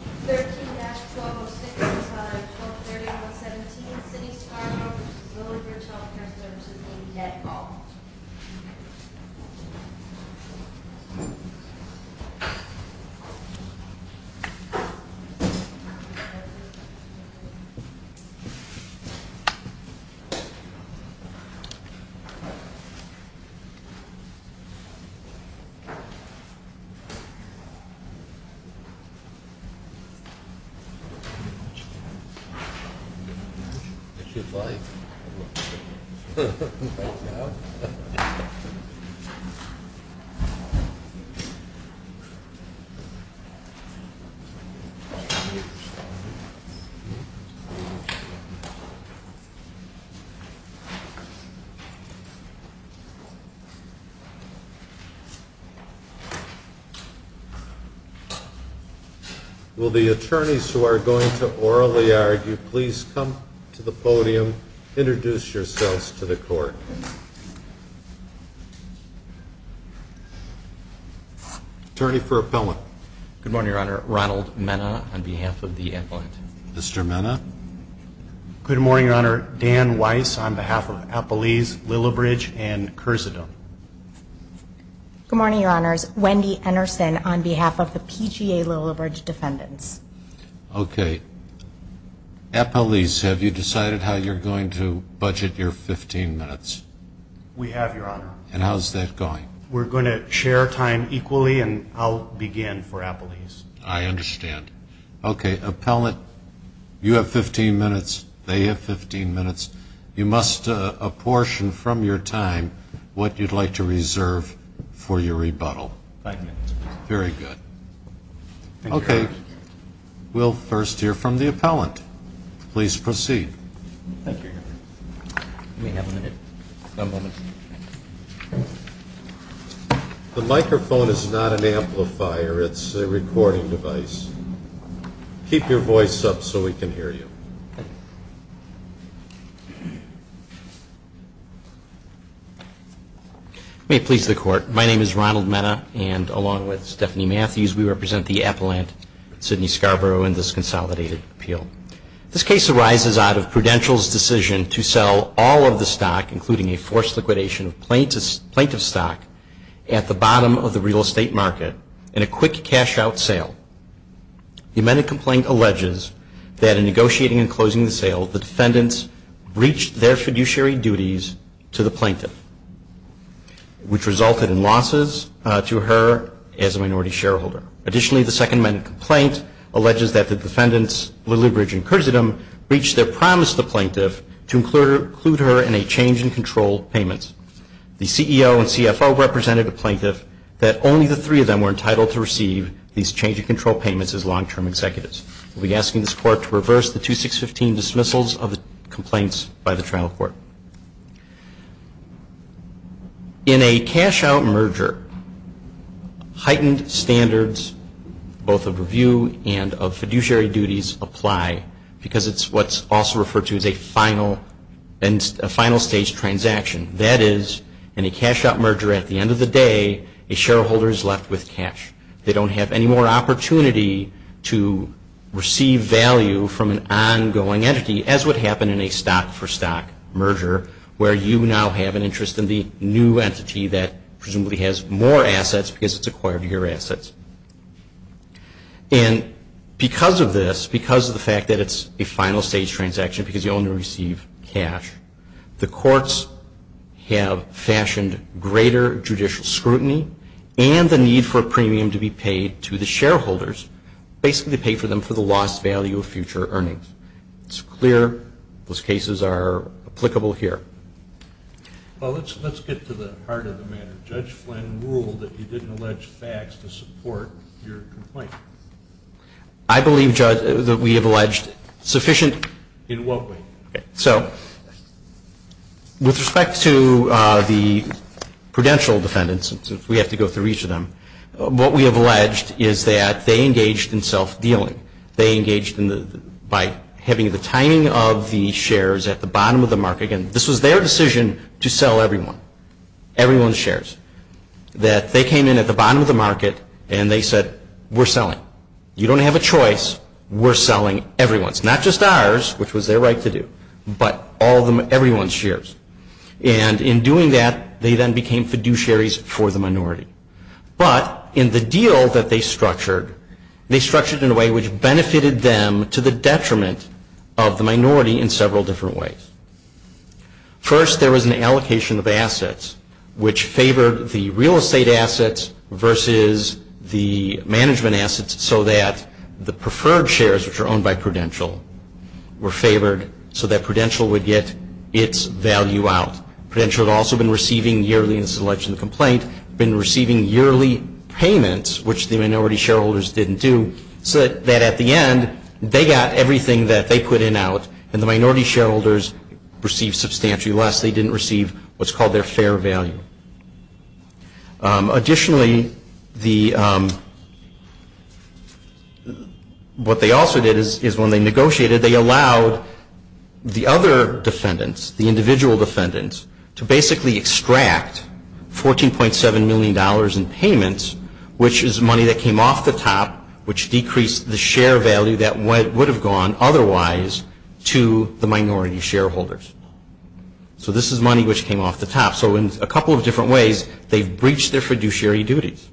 13-1206, 1230, 117, City of Scarborough, Lillibridge Healthcare Services, Inc. Thank you very much. It's your flight. Right now? Thank you. Will the attorneys who are going to orally argue please come to the podium, introduce yourselves to the court. Attorney for Appellant. Good morning, Your Honor. Ronald Mena on behalf of the Appellant. Mr. Mena. Good morning, Your Honor. Dan Weiss on behalf of Appellees Lillibridge and Kersedome. Good morning, Your Honors. Wendy Ennerson on behalf of the PGA Lillibridge Defendants. Okay. Appellees, have you decided how you're going to budget your 15 minutes? We have, Your Honor. And how's that going? We're going to share time equally and I'll begin for Appellees. I understand. Okay, Appellant, you have 15 minutes, they have 15 minutes. You must apportion from your time what you'd like to reserve for your rebuttal. Five minutes. Very good. Okay. We'll first hear from the Appellant. Please proceed. Thank you, Your Honor. You may have a minute. One moment. The microphone is not an amplifier. It's a recording device. Keep your voice up so we can hear you. May it please the Court. My name is Ronald Mena, and along with Stephanie Matthews, we represent the Appellant, Sidney Scarborough, in this consolidated appeal. This case arises out of Prudential's decision to sell all of the stock, including a forced liquidation of plaintiff's stock, at the bottom of the real estate market in a quick cash-out sale. The amended complaint alleges that in negotiating and closing the sale, the defendants breached their fiduciary duties to the plaintiff, which resulted in losses to her as a minority shareholder. Additionally, the second amended complaint alleges that the defendants, Lillie Bridge and Curtis Adam, breached their promise to the plaintiff to include her in a change-in-control payment. The CEO and CFO represented the plaintiff that only the three of them were entitled to receive these change-in-control payments as long-term executives. We'll be asking this Court to reverse the 2615 dismissals of the complaints by the trial court. In a cash-out merger, heightened standards both of review and of fiduciary duties apply because it's what's also referred to as a final stage transaction. That is, in a cash-out merger, at the end of the day, a shareholder is left with cash. They don't have any more opportunity to receive value from an ongoing entity, as would happen in a stock-for-stock merger, where you now have an interest in the new entity that presumably has more assets because it's acquired your assets. And because of this, because of the fact that it's a final stage transaction because you only receive cash, the courts have fashioned greater judicial scrutiny and the need for a premium to be paid to the shareholders, basically to pay for them for the lost value of future earnings. It's clear those cases are applicable here. Well, let's get to the heart of the matter. Judge Flynn ruled that you didn't allege facts to support your complaint. I believe, Judge, that we have alleged sufficient. In what way? So with respect to the prudential defendants, since we have to go through each of them, what we have alleged is that they engaged in self-dealing. They engaged by having the timing of the shares at the bottom of the market. Again, this was their decision to sell everyone, everyone's shares, that they came in at the bottom of the market and they said, we're selling. You don't have a choice. We're selling everyone's, not just ours, which was their right to do, but everyone's shares. And in doing that, they then became fiduciaries for the minority. But in the deal that they structured, they structured in a way which benefited them to the detriment of the minority in several different ways. First, there was an allocation of assets, which favored the real estate assets versus the management assets, so that the preferred shares, which are owned by Prudential, were favored so that Prudential would get its value out. Prudential had also been receiving yearly, and this is alleged in the complaint, been receiving yearly payments, which the minority shareholders didn't do, so that at the end they got everything that they put in out and the minority shareholders received substantially less. They didn't receive what's called their fair value. Additionally, what they also did is when they negotiated, they allowed the other defendants, the individual defendants, to basically extract $14.7 million in payments, which is money that came off the top, which decreased the share value that would have gone otherwise to the minority shareholders. So this is money which came off the top. So in a couple of different ways, they've breached their fiduciary duties.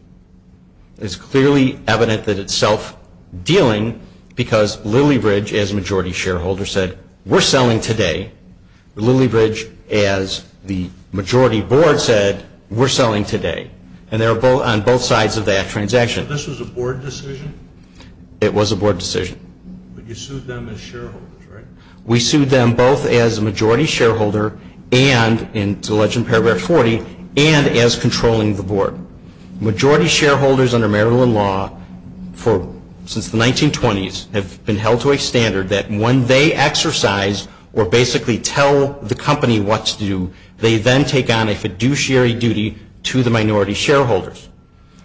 It's clearly evident that it's self-dealing because Lilybridge, as a majority shareholder, said, we're selling today. Lilybridge, as the majority board said, we're selling today. And they're on both sides of that transaction. So this was a board decision? It was a board decision. But you sued them as shareholders, right? We sued them both as a majority shareholder and, and it's alleged in Paragraph 40, and as controlling the board. Majority shareholders under Maryland law since the 1920s have been held to a standard that when they exercise or basically tell the company what to do, they then take on a fiduciary duty to the minority shareholders.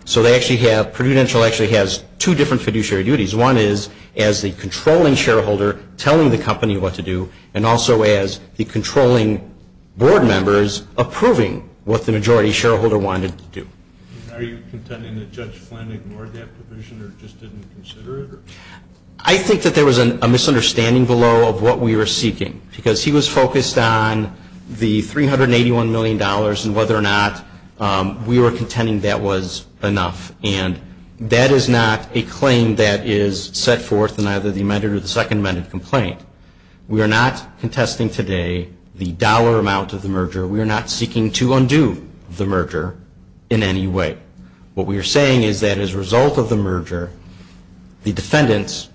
So they actually have, Prudential actually has two different fiduciary duties. One is as the controlling shareholder telling the company what to do and also as the controlling board members approving what the majority shareholder wanted to do. Are you contending that Judge Flynn ignored that provision or just didn't consider it? I think that there was a misunderstanding below of what we were seeking because he was focused on the $381 million and whether or not we were contending that was enough. And that is not a claim that is set forth in either the amended or the second amended complaint. We are not contesting today the dollar amount of the merger. We are not seeking to undo the merger in any way. What we are saying is that as a result of the merger, the defendants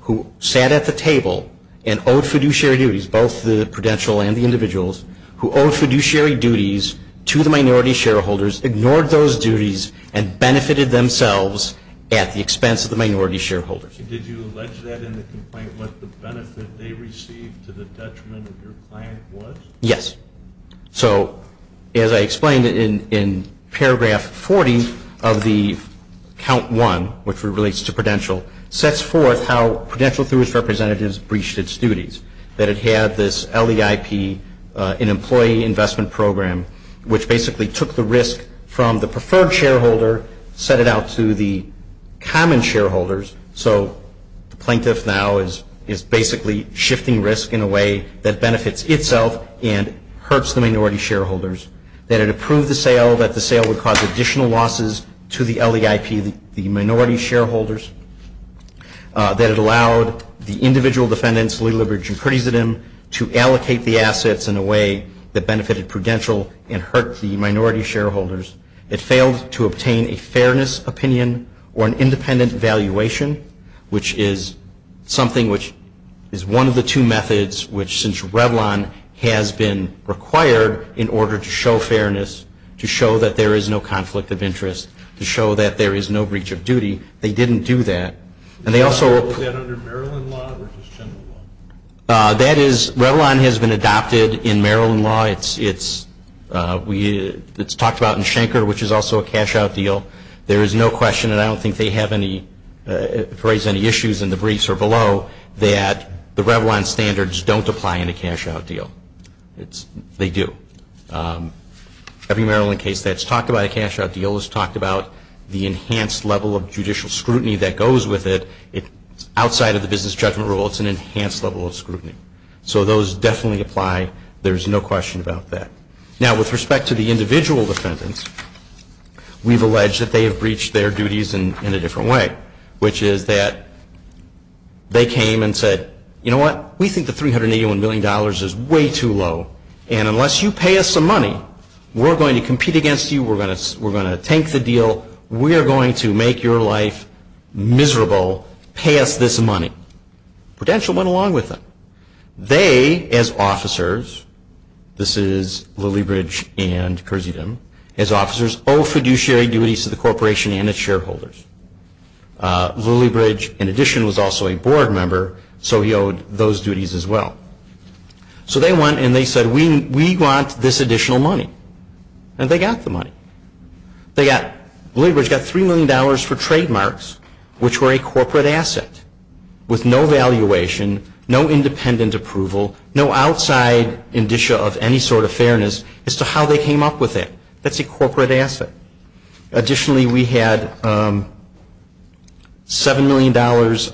who sat at the table and owed fiduciary duties, both the Prudential and the individuals, who owed fiduciary duties to the minority shareholders, ignored those duties and benefited themselves at the expense of the minority shareholders. Did you allege that in the complaint what the benefit they received to the detriment of your client was? Yes. So as I explained in paragraph 40 of the count one, which relates to Prudential, sets forth how Prudential through its representatives breached its duties, that it had this LEIP, an employee investment program, which basically took the risk from the preferred shareholder, set it out to the common shareholders. So the plaintiff now is basically shifting risk in a way that benefits itself and hurts the minority shareholders, that it approved the sale, that the sale would cause additional losses to the LEIP, the minority shareholders, that it allowed the individual defendants, Lee, Libridge, and Prudis at him, to allocate the assets in a way that benefited Prudential and hurt the minority shareholders. It failed to obtain a fairness opinion or an independent valuation, which is something which is one of the two methods which since Revlon has been required in order to show fairness, to show that there is no conflict of interest, to show that there is no breach of duty, they didn't do that. Was that under Maryland law or just general law? That is, Revlon has been adopted in Maryland law. It's talked about in Schenker, which is also a cash-out deal. There is no question, and I don't think they have any, have raised any issues in the briefs or below, that the Revlon standards don't apply in a cash-out deal. They do. Every Maryland case that's talked about a cash-out deal has talked about the enhanced level of judicial scrutiny that goes with it. It's outside of the business judgment rule. It's an enhanced level of scrutiny. So those definitely apply. There is no question about that. Now, with respect to the individual defendants, we've alleged that they have breached their duties in a different way, which is that they came and said, you know what, we think the $381 million is way too low, and unless you pay us some money, we're going to compete against you, we're going to tank the deal, we are going to make your life miserable, pay us this money. Prudential went along with them. They, as officers, this is Lilliebridge and Kersedam, as officers, owe fiduciary duties to the corporation and its shareholders. Lilliebridge, in addition, was also a board member, so he owed those duties as well. So they went and they said, we want this additional money. And they got the money. Lilliebridge got $3 million for trademarks, which were a corporate asset, with no valuation, no independent approval, no outside indicia of any sort of fairness as to how they came up with it. That's a corporate asset. Additionally, we had $7 million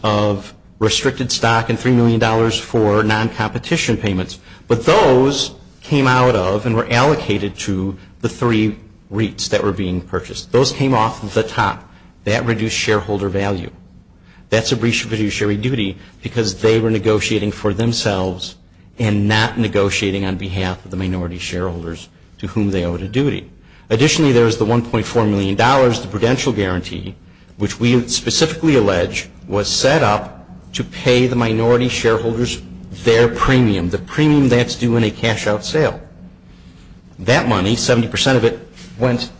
of restricted stock and $3 million for non-competition payments. But those came out of and were allocated to the three REITs that were being purchased. Those came off the top. That reduced shareholder value. That's a fiduciary duty because they were negotiating for themselves Additionally, there was the $1.4 million, the prudential guarantee, which we specifically allege was set up to pay the minority shareholders their premium, the premium that's due in a cash-out sale. That money, 70% of it, went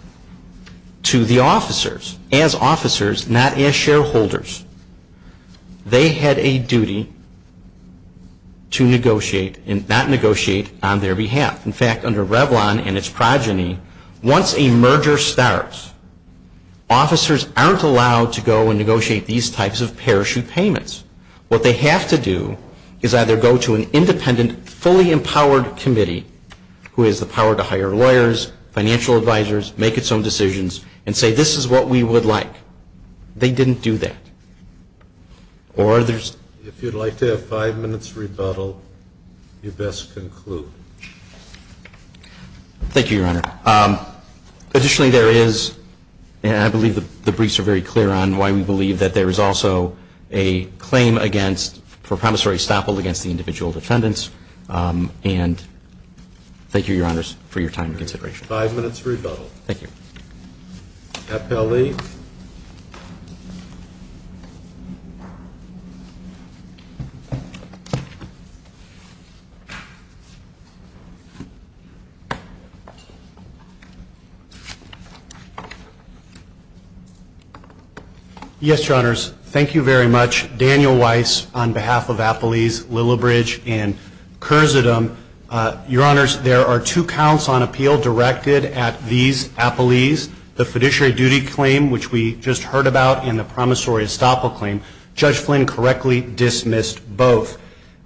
to the officers. As officers, not as shareholders. They had a duty to negotiate and not negotiate on their behalf. In fact, under Revlon and its progeny, once a merger starts, officers aren't allowed to go and negotiate these types of parachute payments. What they have to do is either go to an independent, fully empowered committee, who has the power to hire lawyers, financial advisors, make its own decisions, and say this is what we would like. They didn't do that. If you'd like to have five minutes rebuttal, you best conclude. Thank you, Your Honor. Additionally, there is, and I believe the briefs are very clear on why we believe that there is also a claim for promissory estoppel against the individual defendants. And thank you, Your Honors, for your time and consideration. Five minutes rebuttal. Thank you. Appellee. Yes, Your Honors. Thank you very much. Daniel Weiss, on behalf of Appellees Lillibridge and Kurzudem. Your Honors, there are two counts on appeal directed at these appellees. The fiduciary duty claim, which we just heard about, and the promissory estoppel claim. Judge Flynn correctly dismissed both.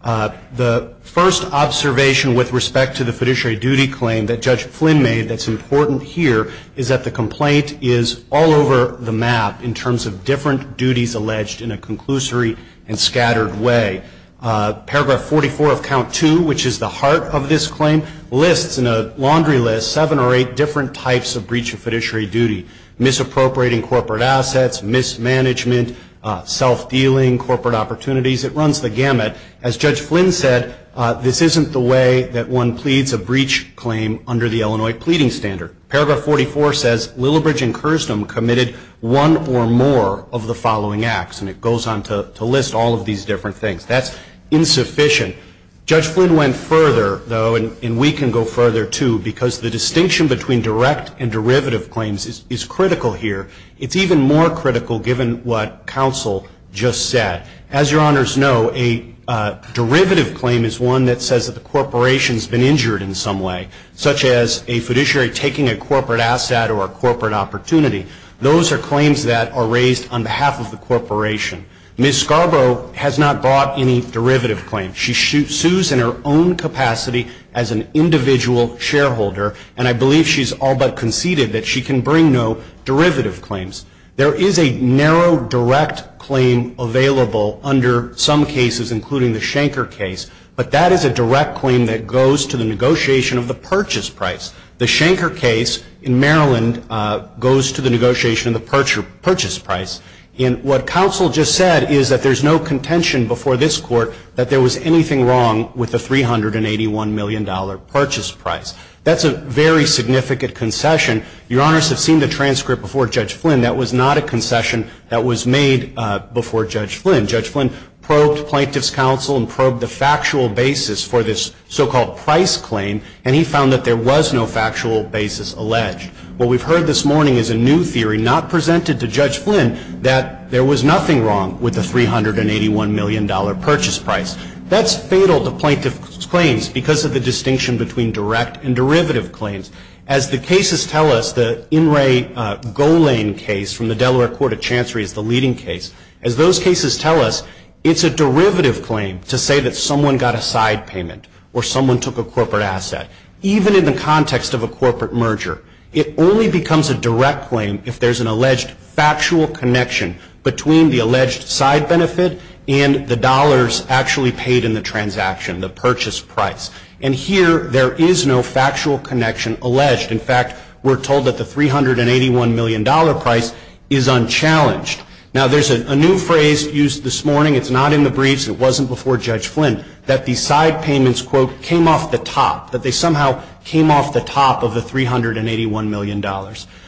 The first observation with respect to the fiduciary duty claim that Judge Flynn made that's important here is that the complaint is all over the map in terms of different duties alleged in a conclusory and scattered way. Paragraph 44 of Count 2, which is the heart of this claim, lists in a laundry list seven or eight different types of breach of fiduciary duty. Misappropriating corporate assets, mismanagement, self-dealing, corporate opportunities. It runs the gamut. As Judge Flynn said, this isn't the way that one pleads a breach claim under the Illinois Pleading Standard. Paragraph 44 says, Lillibridge and Kurzudem committed one or more of the following acts. And it goes on to list all of these different things. That's insufficient. Judge Flynn went further, though, and we can go further, too, because the distinction between direct and derivative claims is critical here. It's even more critical given what counsel just said. As your Honors know, a derivative claim is one that says that the corporation has been injured in some way, such as a fiduciary taking a corporate asset or a corporate opportunity. Those are claims that are raised on behalf of the corporation. Ms. Scarborough has not brought any derivative claims. She sues in her own capacity as an individual shareholder, and I believe she's all but conceded that she can bring no derivative claims. There is a narrow direct claim available under some cases, including the Schenker case, but that is a direct claim that goes to the negotiation of the purchase price. The Schenker case in Maryland goes to the negotiation of the purchase price. And what counsel just said is that there's no contention before this Court that there was anything wrong with the $381 million purchase price. That's a very significant concession. Your Honors have seen the transcript before Judge Flynn. That was not a concession that was made before Judge Flynn. Judge Flynn probed Plaintiff's Counsel and probed the factual basis for this so-called price claim, and he found that there was no factual basis alleged. What we've heard this morning is a new theory not presented to Judge Flynn, that there was nothing wrong with the $381 million purchase price. That's fatal to Plaintiff's claims because of the distinction between direct and derivative claims. As the cases tell us, the In Re Golane case from the Delaware Court of Chancery is the leading case. As those cases tell us, it's a derivative claim to say that someone got a side payment or someone took a corporate asset. Even in the context of a corporate merger, it only becomes a direct claim if there's an alleged factual connection between the alleged side benefit and the dollars actually paid in the transaction, the purchase price. And here, there is no factual connection alleged. In fact, we're told that the $381 million price is unchallenged. Now, there's a new phrase used this morning. It's not in the briefs. It wasn't before Judge Flynn that the side payments, quote, came off the top, that they somehow came off the top of the $381 million.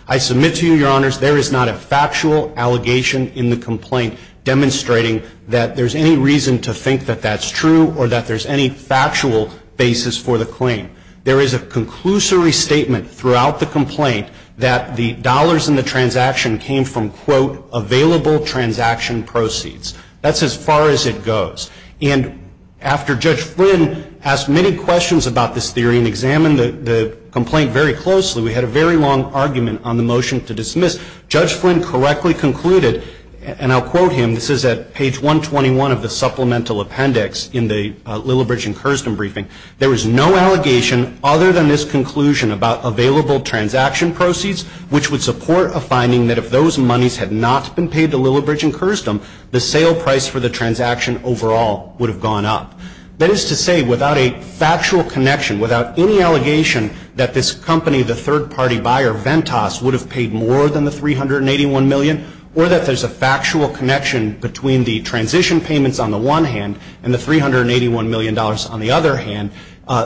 I submit to you, Your Honors, there is not a factual allegation in the complaint demonstrating that there's any reason to think that that's true or that there's any factual basis for the claim. There is a conclusory statement throughout the complaint that the dollars in the transaction came from, quote, available transaction proceeds. That's as far as it goes. And after Judge Flynn asked many questions about this theory and examined the complaint very closely, we had a very long argument on the motion to dismiss. Judge Flynn correctly concluded, and I'll quote him, this is at page 121 of the supplemental appendix in the Lillibridge and Kersdom briefing, there was no allegation other than this conclusion about available transaction proceeds, which would support a finding that if those monies had not been paid to Lillibridge and Kersdom, the sale price for the transaction overall would have gone up. That is to say, without a factual connection, without any allegation that this company, the third-party buyer, Ventas, would have paid more than the $381 million, or that there's a factual connection between the transition payments on the one hand and the $381 million on the other hand,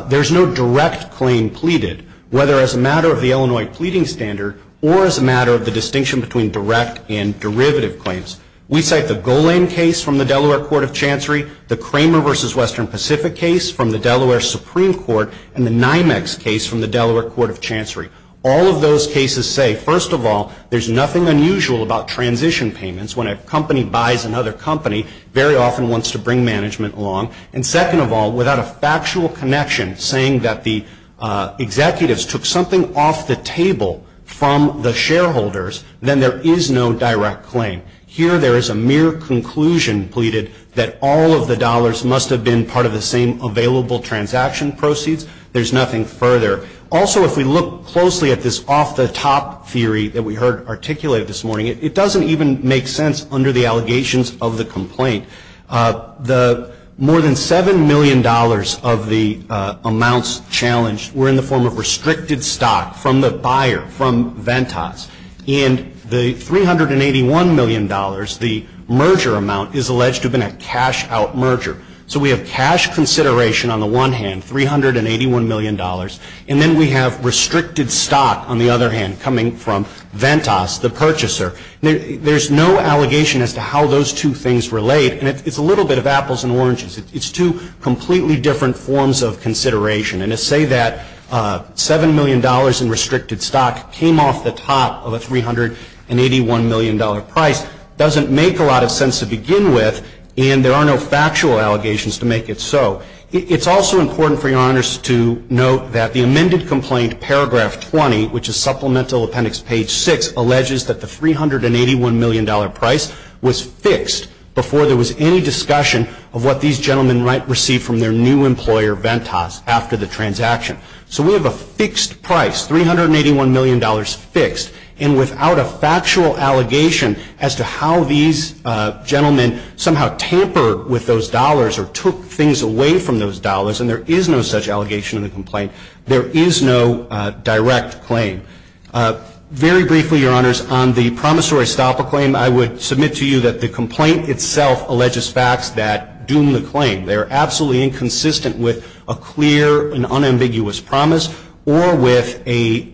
there's no direct claim pleaded, whether as a matter of the Illinois pleading standard or as a matter of the distinction between direct and derivative claims. We cite the Golan case from the Delaware Court of Chancery, the Kramer v. Western Pacific case from the Delaware Supreme Court, and the NYMEX case from the Delaware Court of Chancery. All of those cases say, first of all, there's nothing unusual about transition payments when a company buys another company, very often wants to bring management along. And second of all, without a factual connection saying that the executives took something off the table from the shareholders, then there is no direct claim. Here there is a mere conclusion pleaded that all of the dollars must have been part of the same available transaction proceeds. There's nothing further. Also, if we look closely at this off-the-top theory that we heard articulated this morning, it doesn't even make sense under the allegations of the complaint. The more than $7 million of the amounts challenged were in the form of restricted stock from the buyer, from Ventas. And the $381 million, the merger amount, is alleged to have been a cash-out merger. So we have cash consideration on the one hand, $381 million, and then we have restricted stock on the other hand coming from Ventas, the purchaser. There's no allegation as to how those two things relate. And it's a little bit of apples and oranges. It's two completely different forms of consideration. And to say that $7 million in restricted stock came off the top of a $381 million price doesn't make a lot of sense to begin with, and there are no factual allegations to make it so. It's also important for Your Honors to note that the amended complaint, paragraph 20, which is supplemental appendix page 6, alleges that the $381 million price was fixed before there was any discussion of what these gentlemen might receive from their new employer, Ventas, after the transaction. So we have a fixed price, $381 million fixed. And without a factual allegation as to how these gentlemen somehow tampered with those dollars or took things away from those dollars, and there is no such allegation in the complaint, there is no direct claim. Very briefly, Your Honors, on the promissory stopper claim, I would submit to you that the complaint itself alleges facts that doom the claim. They are absolutely inconsistent with a clear and unambiguous promise or with any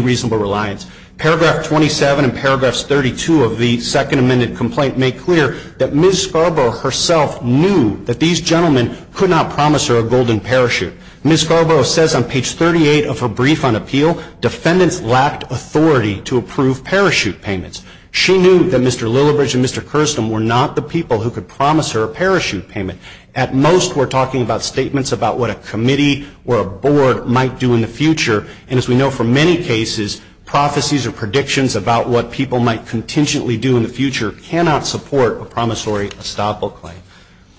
reasonable reliance. Paragraph 27 and paragraphs 32 of the second amended complaint make clear that Ms. Scarborough herself knew that these gentlemen could not promise her a golden parachute. Ms. Scarborough says on page 38 of her brief on appeal, defendants lacked authority to approve parachute payments. She knew that Mr. Lillibridge and Mr. Kirsten were not the people who could promise her a parachute payment. At most, we're talking about statements about what a committee or a board might do in the future. And as we know from many cases, prophecies or predictions about what people might contingently do in the future cannot support a promissory stopper claim.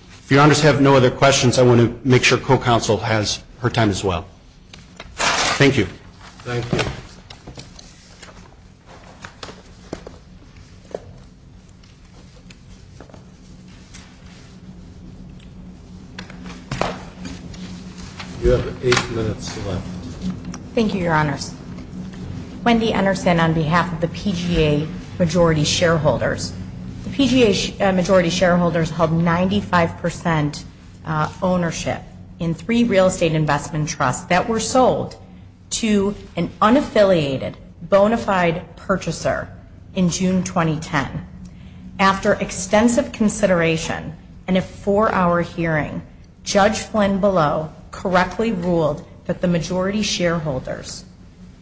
If Your Honors have no other questions, I want to make sure co-counsel has her time as well. Thank you. Thank you. You have eight minutes left. Thank you, Your Honors. Wendy Anderson on behalf of the PGA majority shareholders. The PGA majority shareholders held 95% ownership in three real estate investment trusts that were sold to an unaffiliated, bona fide purchaser in June 2010. After extensive consideration and a four-hour hearing, Judge Flynn Below correctly ruled that the majority shareholders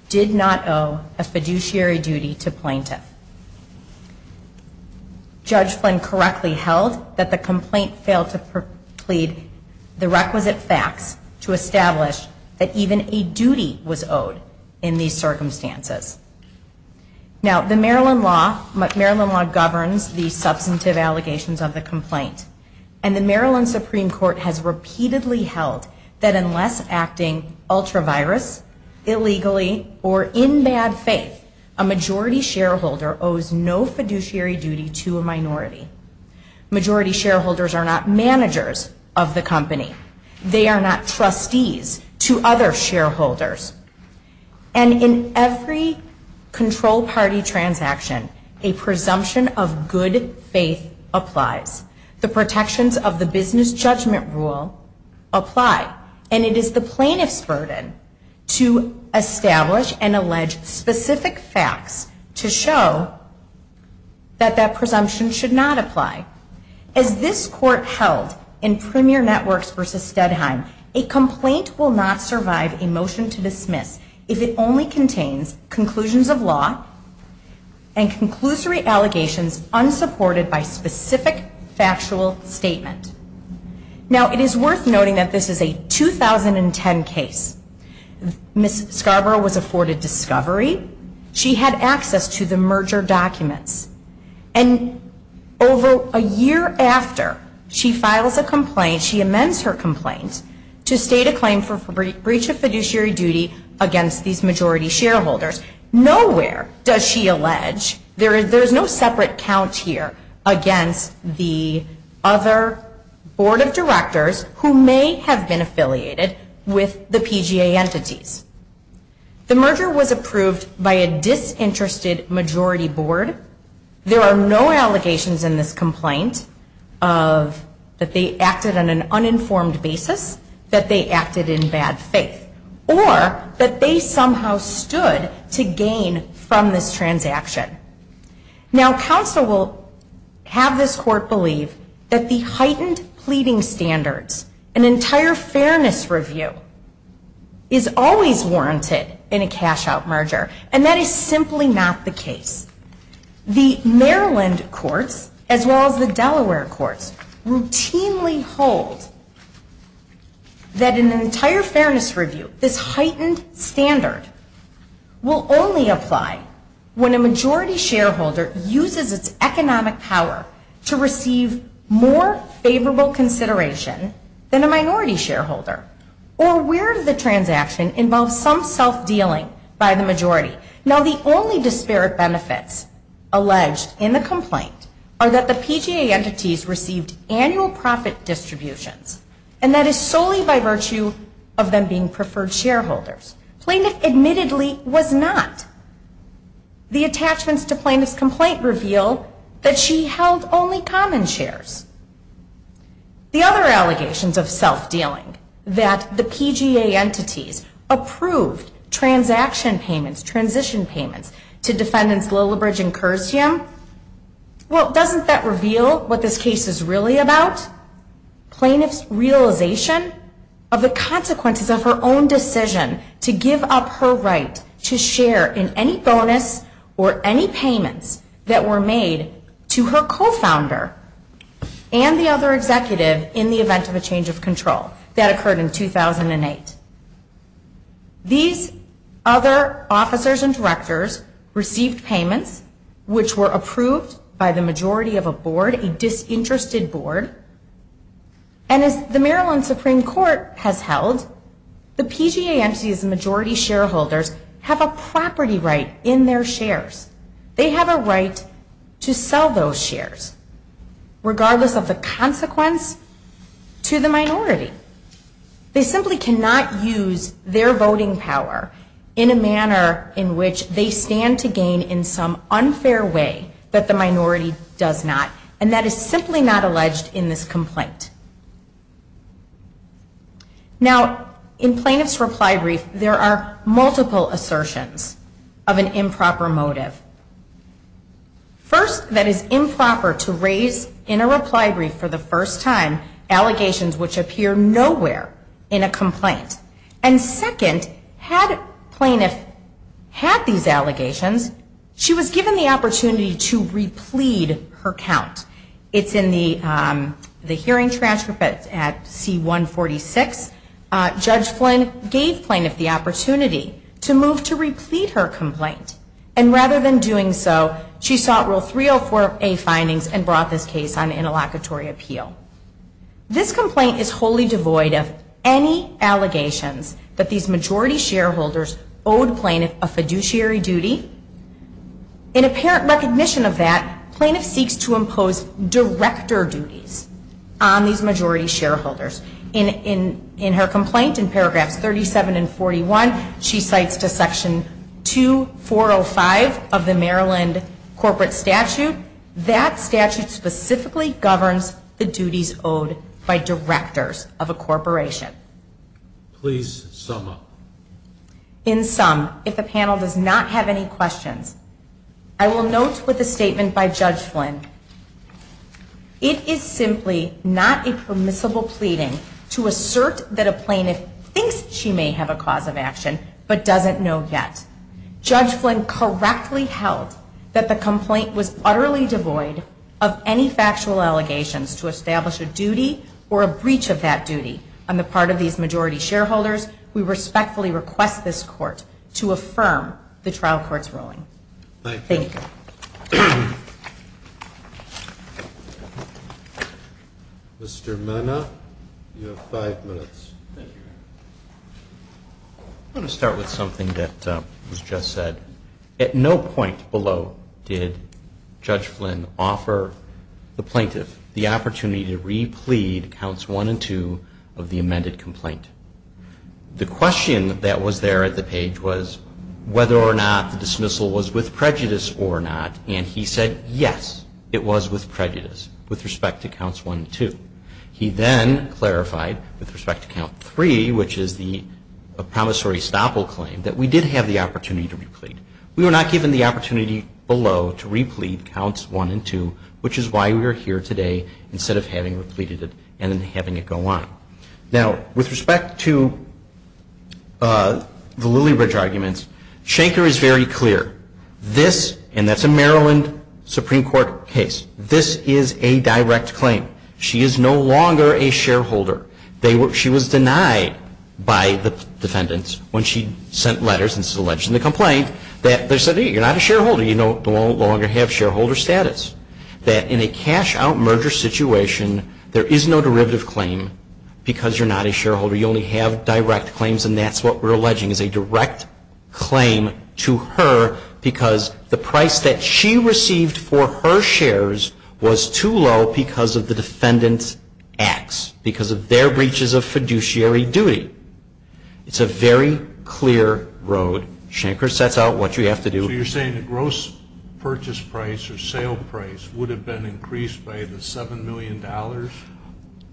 did not owe a fiduciary duty to plaintiff. Judge Flynn correctly held that the complaint failed to plead the requisite facts to establish that even a duty was owed in these circumstances. Now, the Maryland law governs the substantive allegations of the complaint. And the Maryland Supreme Court has repeatedly held that unless acting ultra-virus, illegally, or in bad faith, a majority shareholder owes no fiduciary duty to a minority. Majority shareholders are not managers of the company. They are not trustees to other shareholders. And in every control party transaction, a presumption of good faith applies. The protections of the business judgment rule apply. And it is the plaintiff's burden to establish and allege specific facts to show that that presumption should not apply. As this Court held in Premier Networks v. Steadheim, a complaint will not survive a motion to dismiss if it only contains conclusions of law and conclusory allegations unsupported by specific factual statement. Now, it is worth noting that this is a 2010 case. Ms. Scarborough was afforded discovery. She had access to the merger documents. And over a year after she files a complaint, she amends her complaint to state a claim for breach of fiduciary duties to a board of directors who may have been affiliated with the PGA entities. The merger was approved by a disinterested majority board. There are no allegations in this complaint of that they acted on an uninformed basis, that they acted in bad faith, or that they somehow stood to gain from this transaction. Now, counsel will have this Court believe that the heightened pleading standards, an entire fairness review, is always warranted in a cash-out merger, and that is simply not the case. The Maryland courts, as well as the Delaware courts, routinely hold that in an entire fairness review, this majority shareholder uses its economic power to receive more favorable consideration than a minority shareholder, or where the transaction involves some self-dealing by the majority. Now, the only disparate benefits alleged in the complaint are that the PGA entities received annual profit distributions, and that is solely by virtue of them being preferred shareholders. Plaintiff admittedly was not. The attachments to plaintiff's complaint reveal that she held only common shares. The other allegations of self-dealing, that the PGA entities approved transaction payments, transition payments, to defendants Lillibridge and Curzium, well, doesn't that reveal what this case is really about? Plaintiff's realization of the consequences of her own decision to give up her right to share in any bonus or any payments that were made to her co-founder and the other executive in the event of a change of control. That occurred in 2008. These other officers and directors received payments which were approved by the majority of a board, a disinterested board, and as the Maryland Supreme Court has held, the PGA entities and majority shareholders have a property right in their shares. They have a right to sell those shares, regardless of the consequence to the minority. They simply cannot use their voting power in a manner in which they stand to gain in some unfair way that the plaintiff has alleged in this complaint. Now, in plaintiff's reply brief, there are multiple assertions of an improper motive. First, that it is improper to raise in a reply brief for the first time, allegations which appear nowhere in a complaint. And second, had plaintiff had these allegations, she was given the opportunity to replete her count. It's in the hearing transcript at C146. Judge Flynn gave plaintiff the opportunity to move to replete her complaint. And rather than doing so, she sought Rule 304A findings and brought this case on interlocutory appeal. This complaint is wholly devoid of any allegations that these majority shareholders owed plaintiff a fiduciary duty. In apparent recognition of that, plaintiff seeks to impose director duties on these majority shareholders. In her complaint in paragraphs 37 and 41, she cites to Section 2405 of the Maryland corporate statute. That statute specifically governs the duties owed by directors of a corporation. In sum, if the panel does not have any questions, I will note with a statement by Judge Flynn, it is simply not a permissible pleading to assert that a plaintiff thinks she may have a cause of action but doesn't know yet. Judge Flynn correctly held that the complaint was utterly devoid of any factual allegations to establish a duty or a fiduciary duty on the part of these majority shareholders. We respectfully request this Court to affirm the trial court's ruling. Thank you. Mr. Mena, you have five minutes. I want to start with something that was just said. At no point below did Judge Flynn offer the plaintiff the opportunity to replead Counts 1 and 2 of the amended complaint. The question that was there at the page was whether or not the dismissal was with prejudice or not, and he said, yes, it was with prejudice with respect to Counts 1 and 2. He then clarified with respect to Count 3, which is the promissory stoppable claim, that we did have the opportunity to replead. We were not given the opportunity below to replead Counts 1 and 2, which is why we are here today instead of having repleaded it and then having it go on. Now, with respect to the Lilybridge arguments, Shanker is very clear. This, and that's a Maryland Supreme Court case, this is a direct claim. She is no longer a shareholder. She was denied by the defendants when she sent letters and alleged in the complaint that they said, hey, you're not a shareholder. You no longer have shareholder status. That in a cash-out merger situation, the plaintiff is not a shareholder. There is no derivative claim because you're not a shareholder. You only have direct claims, and that's what we're alleging is a direct claim to her because the price that she received for her shares was too low because of the defendants' acts, because of their breaches of fiduciary duty. It's a very clear road. Shanker sets out what you have to do. So you're saying the gross purchase price or sale price would have been increased by the $7 million?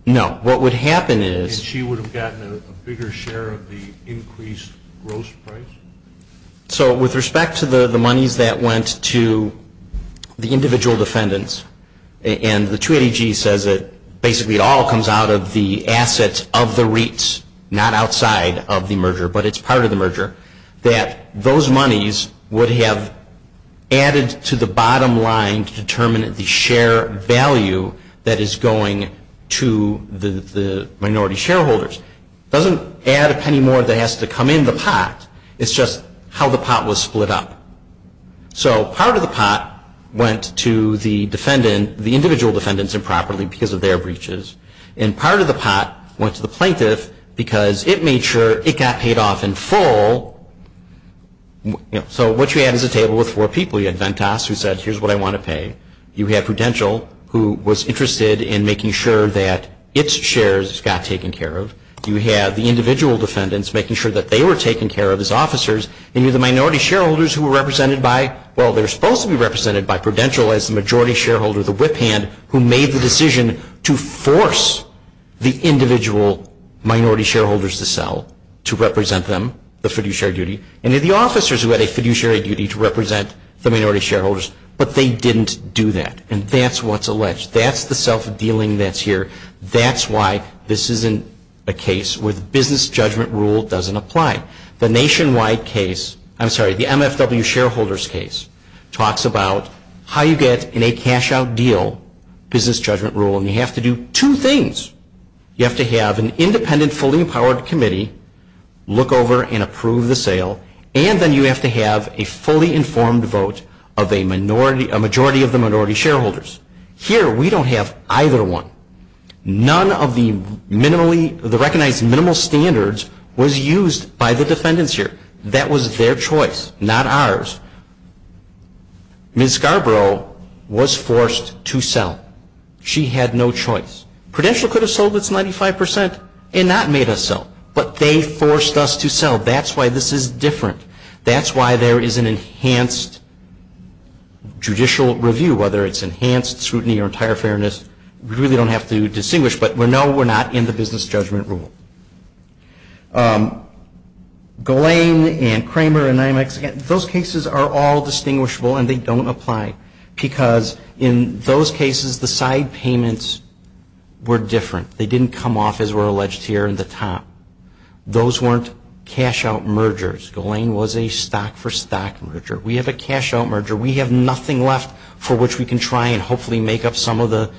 No. What would happen is... And she would have gotten a bigger share of the increased gross price? So with respect to the monies that went to the individual defendants, and the 280G says that basically it all comes out of the assets of the REITs, not outside of the merger, but it's part of the merger, that those monies would have added to the bottom line to determine the share value that is going to the minority shareholders. It doesn't add a penny more that has to come in the pot. It's just how the pot was split up. So part of the pot went to the individual defendants improperly because of their breaches, and part of the pot went to the plaintiff because it made sure it got paid off in full. So what you have is a table with four people. You have Ventas who said, here's what I want to pay. You have Prudential who was interested in making sure that its shares got taken care of. You have the individual defendants making sure that they were taken care of as officers. And you have the minority shareholders who were represented by, well, they were supposed to be represented by Prudential as the majority shareholder, the whip hand, who made the decision to force the individual minority shareholders to sell to represent them, the fiduciary duty, and then the officers who had a fiduciary duty to represent the minority shareholders, but they didn't do that. And that's what's alleged. That's the self-dealing that's here. That's why this isn't a case where the business judgment rule doesn't apply. The nationwide case, I'm sorry, the MFW shareholders case talks about how you get in a cash-out deal business judgment rule, and you have to do two things. You have to have an independent, fully empowered committee look over and approve the sale, and then you have to have a fully informed vote of a majority of the minority shareholders. Here, we don't have either one. None of the minimally, the recognized minimal standards was used by the defendants here. That was their choice, not ours. Ms. Scarborough was forced to sell. She had no choice. Prudential could have sold its 95 percent and not made us sell, but they forced us to sell. That's why this is different. That's why there is an enhanced judicial review, whether it's enhanced scrutiny or entire fairness. We really don't have to distinguish, but we know we're not in the business judgment rule. Golane and Kramer and Imax, those cases are all distinguishable, and they don't apply, because in those cases, the side payments were different. They didn't come off as we're alleged here in the top. Those weren't cash-out mergers. Golane was a stock-for-stock merger. We have a cash-out merger. We have nothing left for which we can try and hopefully make up some of the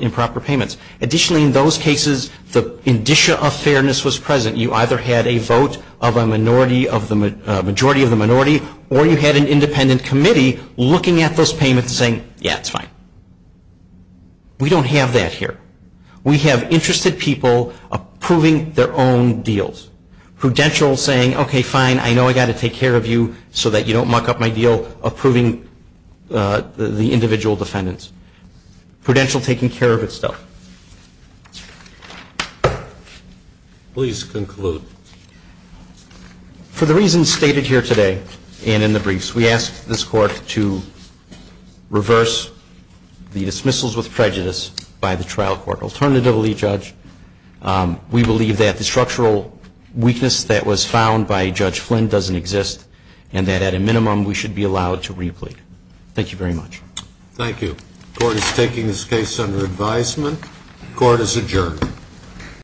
improper payments. Additionally, in those cases, the indicia of fairness was present. You either had a vote of a majority of the minority, or you had an individual defendant. We don't have that here. We have interested people approving their own deals. Prudential saying, okay, fine, I know I got to take care of you so that you don't muck up my deal, approving the individual defendants. Prudential taking care of itself. Please conclude. For the reasons stated here today and in the briefs, we ask this Court to reverse the dismissal of the plaintiffs. We ask this Court to dismiss the individuals with prejudice by the trial court. Alternatively, Judge, we believe that the structural weakness that was found by Judge Flynn doesn't exist, and that at a minimum, we should be allowed to replead. Thank you very much. Thank you. The Court is taking this case under advisement. The Court is adjourned.